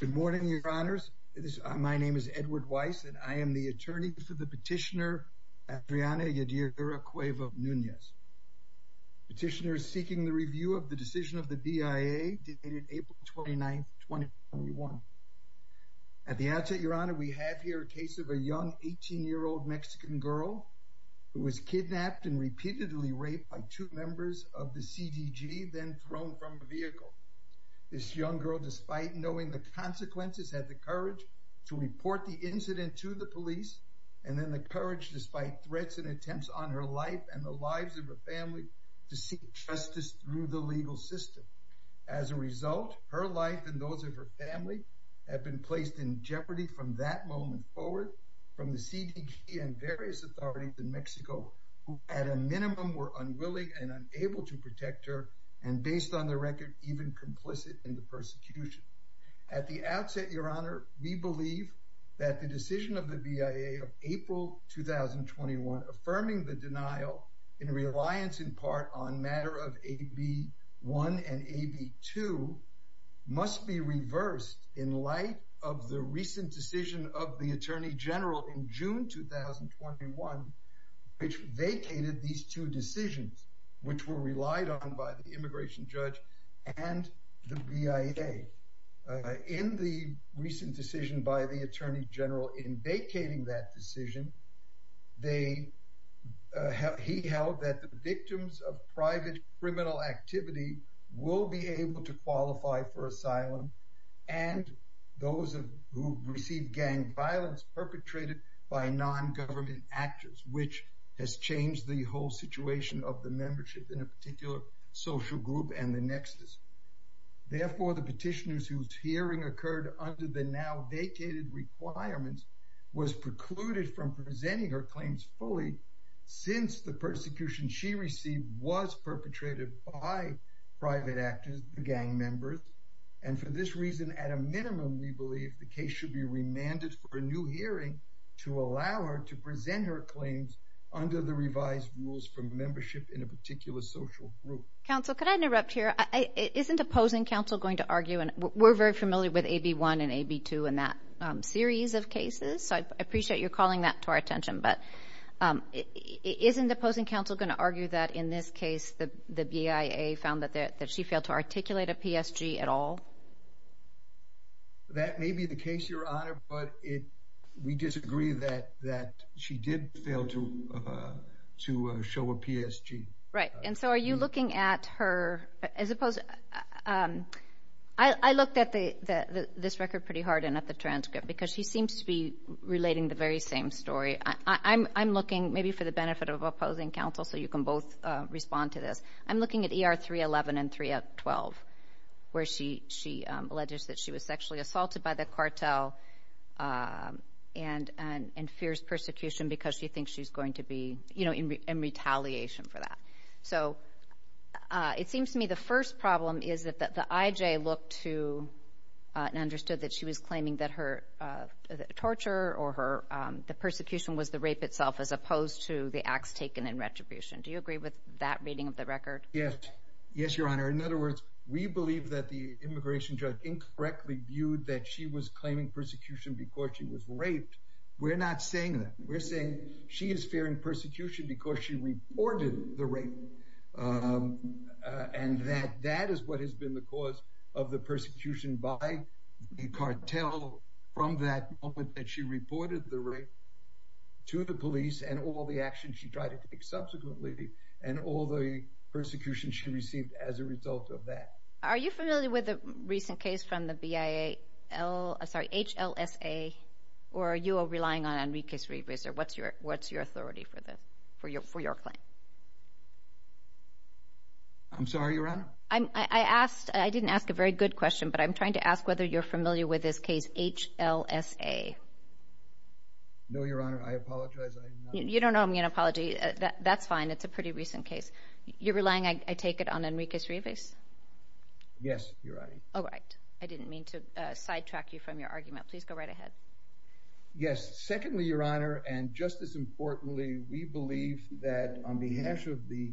Good morning, your honors. My name is Edward Weiss, and I am the attorney for the petitioner Adriana Yadira Cueva Nunez. Petitioners seeking the review of the decision of the BIA dated April 29, 2021. At the outset, your honor, we have here a case of a young 18-year-old Mexican girl who was kidnapped and repeatedly raped by two members of the CDG, then thrown from a vehicle. This young girl, despite knowing the consequences, had the courage to report the incident to the police, and then the courage, despite threats and attempts on her life and the lives of her family, to seek justice through the legal system. As a result, her life and those of her family have been placed in jeopardy from that moment forward, from the CDG and various authorities in Mexico, who at a minimum were unwilling and unable to protect her, and based on the record, even complicit in the persecution. At the outset, your honor, we believe that the decision of the BIA of April 2021, affirming the denial in reliance in part on matter of AB1 and AB2, must be reversed in light of the recent decision of the Attorney General in June 2021, which vacated these two decisions, which were relied on by the immigration judge and the BIA. In the recent decision by the Attorney General in vacating that decision, he held that the victims of private criminal activity will be able to qualify for asylum, and those who receive gang violence perpetrated by non-government actors, which has changed the whole situation of the membership in a particular social group and the nexus. Therefore, the petitioners whose hearing occurred under the now vacated requirements was precluded from presenting her claims fully since the persecution she received was perpetrated by private actors, the gang members. And for this reason, at a minimum, we believe the case should be remanded for a new hearing to allow her to present her claims under the revised rules for membership in a particular social group. Counsel, could I interrupt here? Isn't opposing counsel going to argue, and we're very familiar with AB1 and AB2 in that series of cases, so I appreciate you're calling that to our attention, but isn't opposing counsel going to argue that in this case the BIA found that she failed to articulate a PSG at all? That may be the case, Your Honor, but we disagree that she did fail to show a PSG. Right, and so are you looking at her, as opposed to, I looked at this record pretty hard and at the transcript because she seems to be relating the very same story. I'm looking maybe for the benefit of opposing counsel so you can both respond to this. I'm looking at ER 311 and 312 where she alleges that she was sexually assaulted by the cartel and fears persecution because she thinks she's going to be, you know, in retaliation for that. So it seems to me the first problem is that the IJ looked to and understood that she was claiming that her acts taken in retribution. Do you agree with that reading of the record? Yes. Yes, Your Honor. In other words, we believe that the immigration judge incorrectly viewed that she was claiming persecution because she was raped. We're not saying that. We're saying she is fearing persecution because she reported the rape and that that is what has been the cause of the persecution by the cartel from that moment that she reported the rape to the police and all the actions she tried to take subsequently and all the persecution she received as a result of that. Are you familiar with the recent case from the HLSA or are you relying on Enrique's revisit? What's your authority for this, for your claim? I'm sorry, Your Honor. I asked, I didn't ask a very good question, but I'm trying to ask whether you're familiar with this case HLSA. No, Your Honor. I apologize. You don't owe me an apology. That's fine. It's a pretty recent case. You're relying, I take it, on Enrique's revisit? Yes, Your Honor. All right. I didn't mean to sidetrack you from your argument. Please go right ahead. Yes. Secondly, Your Honor, and just as importantly, we believe that on behalf of the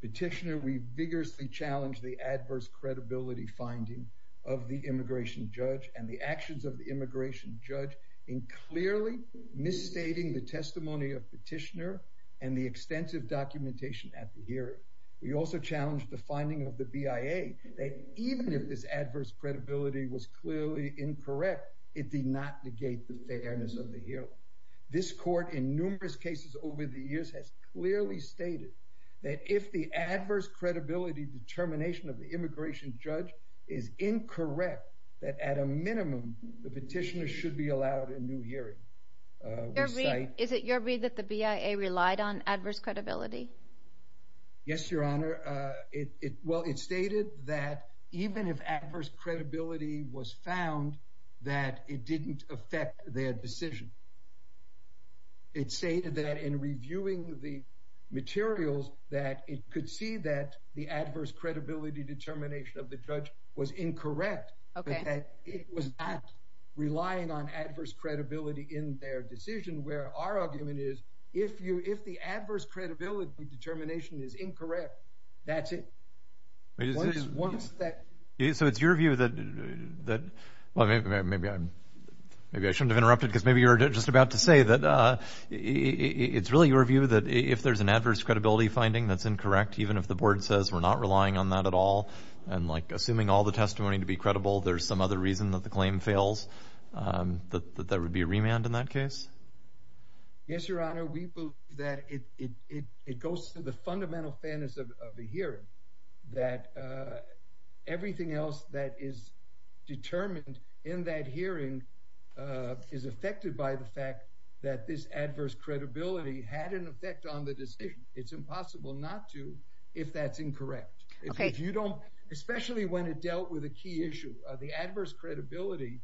petitioner, we vigorously challenged the adverse credibility finding of the immigration judge and the actions of the immigration judge in clearly misstating the testimony of petitioner and the extensive documentation at the hearing. We also challenged the finding of the BIA that even if this adverse credibility was clearly incorrect, it did not negate the fairness of the hearing. This court in numerous cases over the years has clearly stated that if the adverse credibility determination of the immigration judge is incorrect, that at a minimum, the petitioner should be allowed a new hearing. Is it your read that the BIA relied on adverse credibility? Yes, Your Honor. Well, it stated that even if adverse credibility was found, that it didn't affect their decision. It stated that in reviewing the materials, that it could see that the adverse credibility determination of the judge was incorrect. It was not relying on adverse credibility in their decision, where our argument is, if the adverse credibility determination is incorrect, that's it. So it's your view that maybe I shouldn't have interrupted because maybe you're just about to say that it's really your view that if there's an adverse credibility finding that's incorrect, even if the board says we're not relying on that at all, and like assuming all the testimony to be credible, there's some other reason that the claim to the fundamental fairness of the hearing, that everything else that is determined in that hearing is affected by the fact that this adverse credibility had an effect on the decision. It's impossible not to if that's incorrect. Especially when it dealt with a key issue, the adverse credibility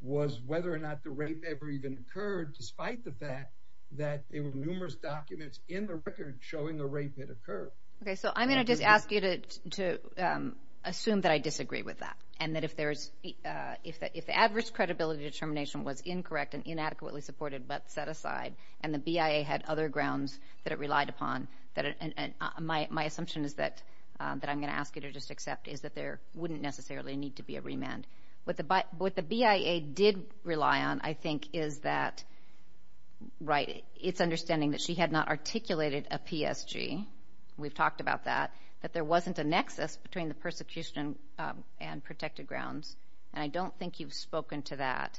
was whether or not the rape ever even occurred, despite the fact that there were numerous documents in the record showing the rape had occurred. Okay, so I'm going to just ask you to assume that I disagree with that, and that if there's, if the adverse credibility determination was incorrect and inadequately supported but set aside, and the BIA had other grounds that it relied upon, that my assumption is that I'm going to ask you to just accept is that there wouldn't necessarily need to be a remand. What the BIA did rely on, I think, is that, right, it's understanding that she had not articulated a PSG, we've talked about that, that there wasn't a nexus between the persecution and protected grounds, and I don't think you've spoken to that,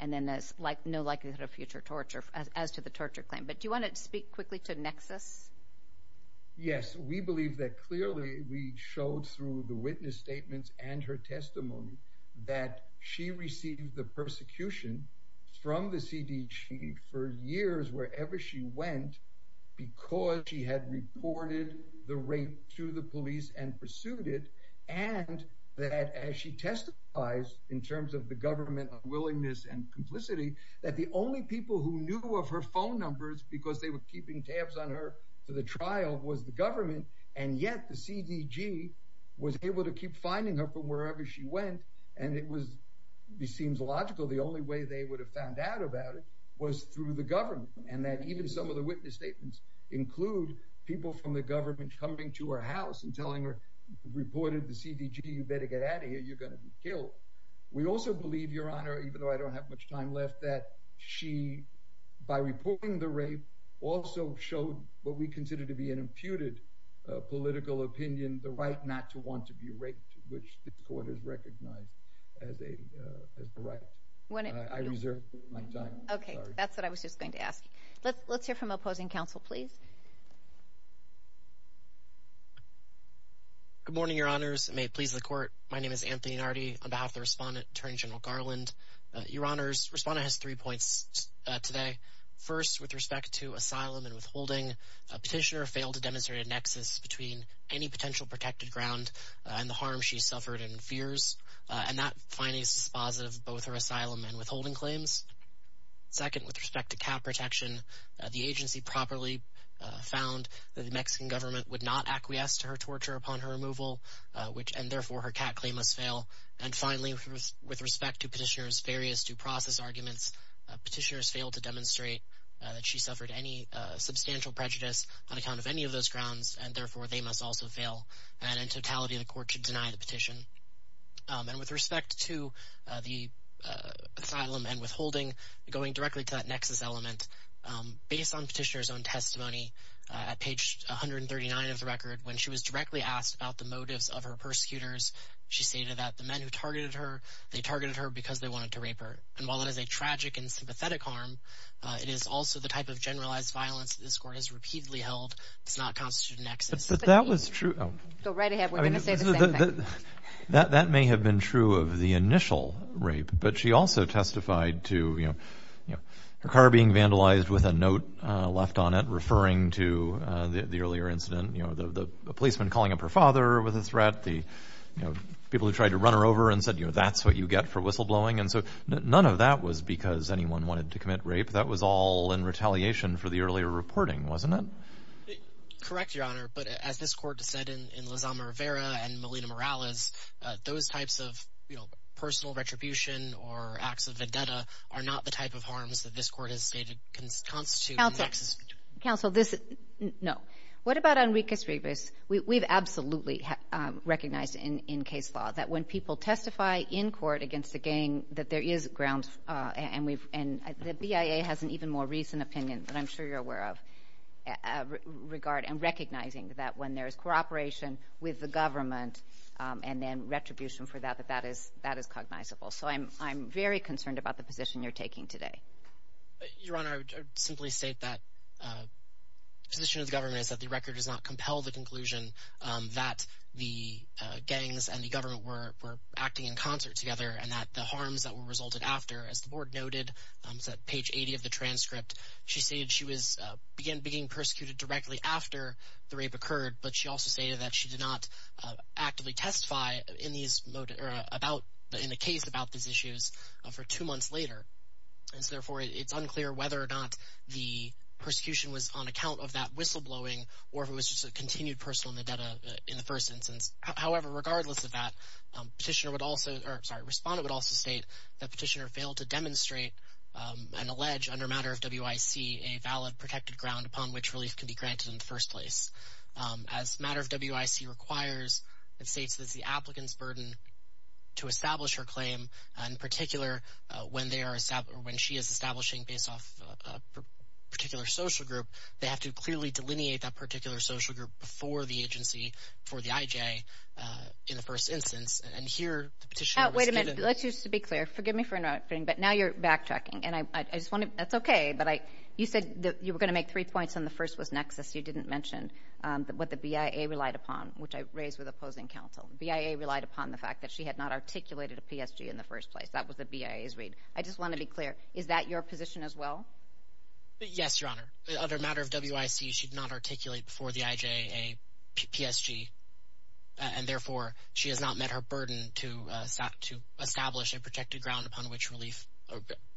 and then there's no likelihood of future torture as to the torture claim. But do you want to speak quickly to nexus? Yes, we believe that clearly we showed through the witness statements and her testimony that she received the persecution from the CDG for years, wherever she went, because she had reported the rape to the police and pursued it, and that as she testifies in terms of the government unwillingness and complicity, that the only people who knew of her phone numbers because they were keeping tabs on her for the trial was the government, and yet the CDG was able to keep finding her from wherever she went, and it was, it seems logical, the only way they would have found out about it was through the government, and that even some of the witness statements include people from the government coming to her house and telling her, reported the CDG, you better get out of here, you're going to be killed. We also believe, Your Honor, even though I don't have much time left, that she, by reporting the rape, also showed what we consider to be an imputed political opinion, the right not to want to be raped, which this Court has recognized as a right. I reserve my time. Okay, that's what I was just going to ask you. Let's hear from opposing counsel, please. Good morning, Your Honors, and may it please the Court, my name is Anthony Nardi on behalf of the Respondent, Attorney General Garland. Your Honors, Respondent has three points today. First, with respect to asylum and withholding, Petitioner failed to demonstrate a nexus between any potential protected ground and the harm she suffered and fears, and that finding is dispositive of both her asylum and withholding claims. Second, with respect to cat protection, the agency properly found that the Mexican government would not acquiesce to her torture upon her removal, and therefore, her cat claim must fail. And finally, with respect to Petitioner's various due process arguments, Petitioner has failed to demonstrate that she suffered any substantial prejudice on account of any of those grounds, and therefore, they must also fail, and in totality, the Court should deny the petition. And with respect to the asylum and withholding, going directly to that nexus element, based on Petitioner's own testimony, at page 139 of the record, when she was directly asked about the motives of her persecutors, she stated that the men who targeted her, they targeted her because they wanted to rape her, and while it is a tragic and sympathetic harm, it is also the type of generalized violence that this Court has repeatedly held does not constitute a nexus. But that was true. Go right ahead, we're going to say the same thing. That may have been true of the initial rape, but she also testified to, you know, her car being vandalized with a note left on it referring to the earlier incident, you know, the policeman calling up her father with a threat, the, you know, people who tried to run her over and said, you know, that's what you get for whistleblowing, and so none of that was because anyone wanted to commit rape. That was all in retaliation for the earlier reporting, wasn't it? Correct, Your Honor, but as this Court said in Lazama Rivera and Melina Morales, those types of, you know, personal retribution or acts of vendetta are not the type of harms that this Court has stated constitute a nexus. Counsel, this, no. What about Enriquez Rivas? We've absolutely recognized in case law that when people testify in court against a gang, that there is grounds, and we've, and the BIA has an even more recent opinion that I'm sure you're aware of, regard and recognizing that when there is cooperation with the government and then retribution for that, that that is cognizable. So I'm very concerned about the position you're taking today. Your Honor, I would simply state that the position of the government is that the record does not compel the conclusion that the gangs and the government were acting in concert together and that the harms that were resulted after, as the Board noted, it's at page 80 of the transcript, she stated she was, began being persecuted directly after the rape occurred, but she also stated that she did not actively testify in these, about, in a case about these issues for two months later. And so therefore, it's unclear whether or not the persecution was on account of that whistleblowing or if it was just a continued personal vendetta in the first instance. However, regardless of that, Petitioner would also, or sorry, Respondent would also state that Petitioner failed to demonstrate and allege, under matter of WIC, a valid protected ground upon which relief can be granted in the first place. As matter of WIC requires, it states that the applicant's burden to establish her claim, in particular when they are, when she is establishing based off a particular social group, they have to clearly delineate that particular social group before the agency, for the IJ, in the first instance. And here, the Petitioner... Wait a minute. Let's just be clear. Forgive me for interrupting, but now you're backtracking, and I just want to, that's okay, but I, you said that you were going to make three points, and the first was nexus. You didn't mention what the BIA relied upon, which I raise with opposing counsel. BIA relied upon the fact that she had not articulated a PSG in the first place. That was the BIA's read. I just want to be clear. Is that your position as well? Yes, Your Honor. Under matter of WIC, she did not articulate before the IJ a PSG, and therefore, she has not met her burden to establish a protected ground upon which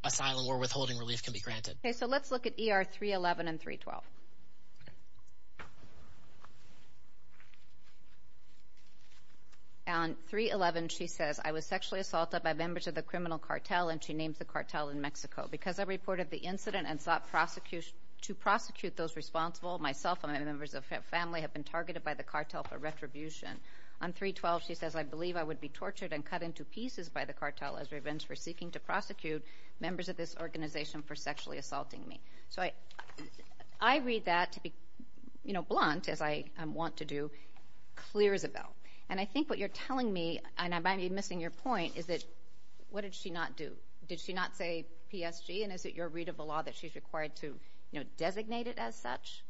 asylum or withholding relief can be granted. Okay, so let's look at ER 311 and 312. On 311, she says, I was sexually assaulted by members of the criminal cartel, and she named the cartel in Mexico. Because I reported the incident and sought to prosecute those responsible, myself and my members of family have been targeted by the cartel for retribution. On 312, she says, I believe I would be tortured and cut into pieces by the cartel as revenge for seeking to prosecute members of this organization for sexually assaulting me. So I read that to be, you know, blunt, as I want to do, clear as a bell, and I think what you're telling me, and I might be missing your point, is that, what did she not do? Did she not say PSG, and is it your read of the law that she's required to, you know, designate it as such?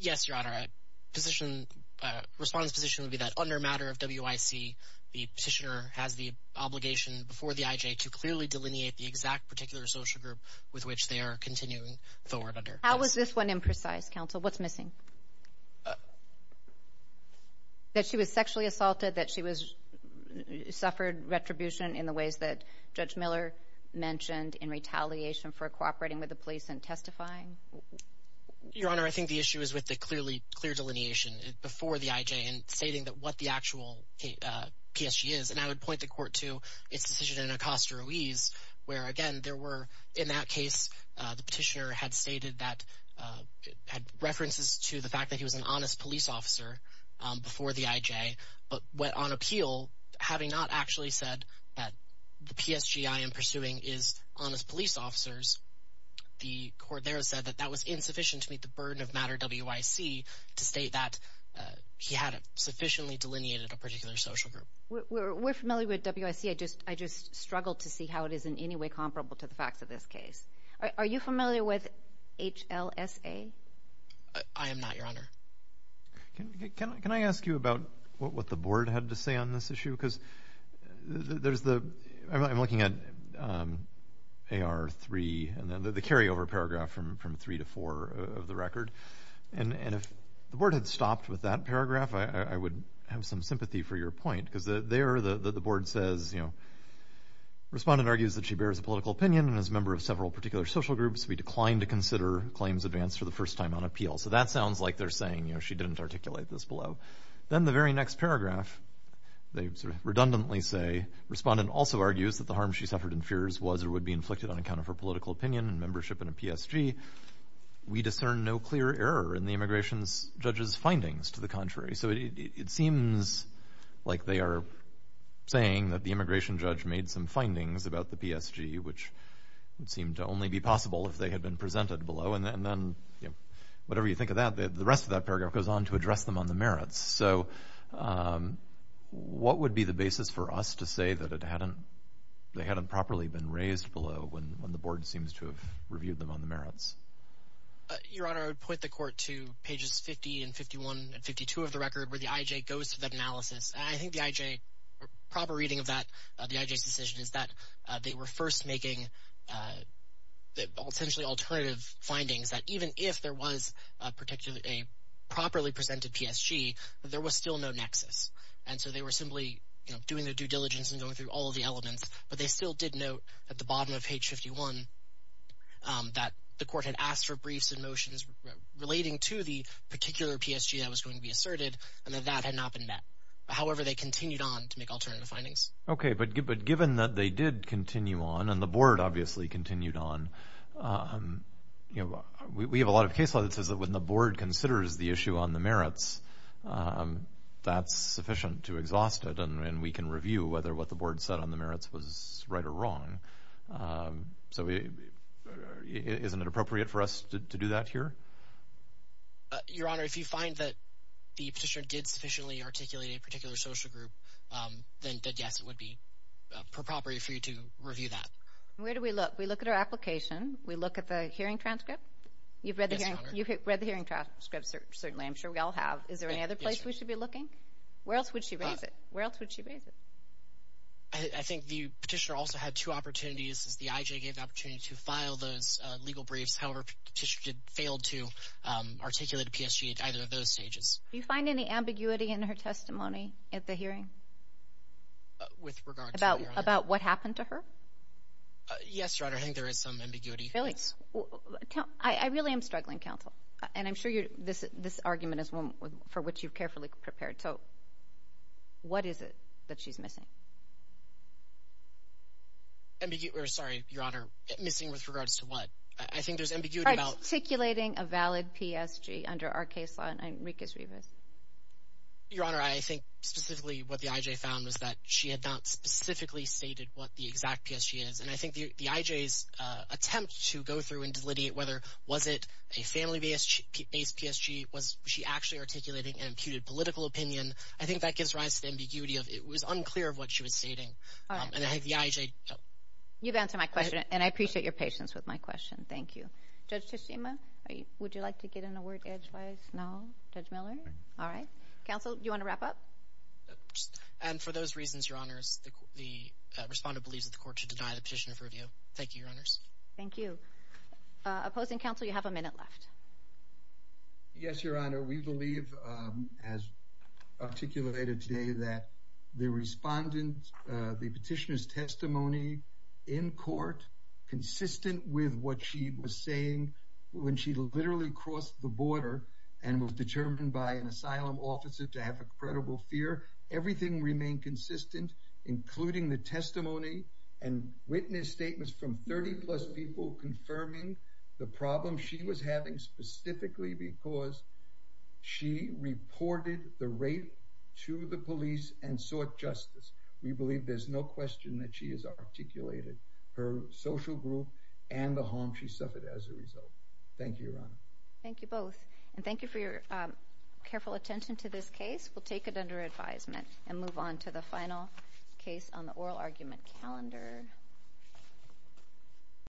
Yes, Your Honor, a position, response position would be that under matter of WIC, the petitioner has the obligation before the IJ to clearly delineate the exact particular social group with which they are continuing forward under. How is this one imprecise, counsel? What's missing? That she was sexually assaulted, that she was, suffered retribution in the ways that Judge Miller mentioned in retaliation for cooperating with the police in testifying? Your Honor, I think the issue is with the clearly clear delineation before the IJ and stating that what the actual PSG is, and I would point the court to its decision in Acosta Ruiz, where again, there were, in that case, the petitioner had stated that, had references to the fact that he was an honest police officer before the IJ, but went on appeal, having not actually said that the PSG I am pursuing is honest police officers, the court there said that that was insufficient to meet the burden of matter WIC to state that he hadn't sufficiently delineated a particular social group. We're familiar with WIC, I just struggled to see how it is in any way comparable to the facts of this case. Are you familiar with HLSA? I am not, Your Honor. Can I ask you about what the board had to say on this issue? Because there's the, I'm looking at AR3, and then the carryover paragraph from 3 to 4 of the record, and if the board had stopped with that paragraph, I would have some sympathy for your point, because there the board says, you know, respondent argues that she bears a political opinion and is a member of several particular social groups. We decline to consider claims advanced for the first time on appeal. So that sounds like they're saying, you know, she didn't articulate this below. Then the very next paragraph, they sort of redundantly say, respondent also argues that the harm she suffered and fears was or would be inflicted on account of her political opinion and membership in a PSG. We discern no clear error in the immigration judge's findings to the contrary. So it seems like they are saying that the immigration judge made some findings about the PSG, which would seem to only be possible if they had been presented below, and then, you know, whatever you think of that, the rest of that paragraph goes on to address them on the merits. So what would be the basis for us to say that it hadn't, they hadn't properly been raised below when the board seems to have reviewed them on the merits? Your Honor, I would point the court to pages 50 and 51 and 52 of the record where the IJ goes to that analysis. I think the IJ, proper reading of that, the IJ's decision is that they were first making essentially alternative findings that even if there was a properly presented PSG, there was still no nexus. And so they were simply, you know, doing their due diligence and going through all of the elements, but they still did note at the bottom of page 51 that the court had asked for briefs and motions relating to the particular PSG that was going to be asserted and that that had not been met. However, they continued on to make alternative findings. Okay, but given that they did continue on and the board obviously continued on, you know, we have a lot of case law that says that when the board considers the issue on the merits, that's sufficient to exhaust it and we can review whether what the board said on the merits was right or wrong. So isn't it appropriate for us to do that here? Your Honor, if you find that the petitioner did sufficiently articulate a particular social group, then yes, it would be appropriate for you to review that. Where do we look? We look at our application. We look at the hearing transcript. You've read the hearing transcript, certainly. I'm sure we all have. Is there any other place we should be looking? Where else would she raise it? Where else would she raise it? I think the petitioner also had two opportunities. The IJ gave the opportunity to file those legal briefs. However, the petitioner failed to articulate a PSG at either of those stages. Do you find any ambiguity in her testimony at the hearing? With regard to what, Your Honor? About what happened to her? Yes, Your Honor. I think there is some ambiguity. Really? I really am struggling, counsel. And I'm sure this argument is one for which you've carefully prepared. So what is it that she's missing? Ambiguity. Sorry, Your Honor. Missing with regards to what? I think there's ambiguity about— Articulating a valid PSG under our case law. Enriquez Rivas. Your Honor, I think specifically what the IJ found was that she had not specifically stated what the exact PSG is. And I think the IJ's attempt to go through and delineate whether was it a family-based PSG? Was she actually articulating an imputed political opinion? I think that gives rise to the ambiguity of it was unclear of what she was stating. You've answered my question, and I appreciate your patience with my question. Thank you. Judge Teshima, would you like to get in a word edgewise now? Judge Miller? All right. Counsel, do you want to wrap up? And for those reasons, Your Honors, the respondent believes that the court should deny the petitioner's review. Thank you, Your Honors. Thank you. Opposing counsel, you have a minute left. Yes, Your Honor. We believe, as articulated today, that the respondent—the petitioner's testimony in court, consistent with what she was saying when she literally crossed the border and was determined by an asylum officer to have a credible fear, everything remained consistent, including the testimony and witness statements from 30-plus people confirming the problem she was having, specifically because she reported the rape to the police and sought justice. We believe there's no her social group and the harm she suffered as a result. Thank you, Your Honor. Thank you both. And thank you for your careful attention to this case. We'll take it under advisement and move on to the final case on the oral argument calendar.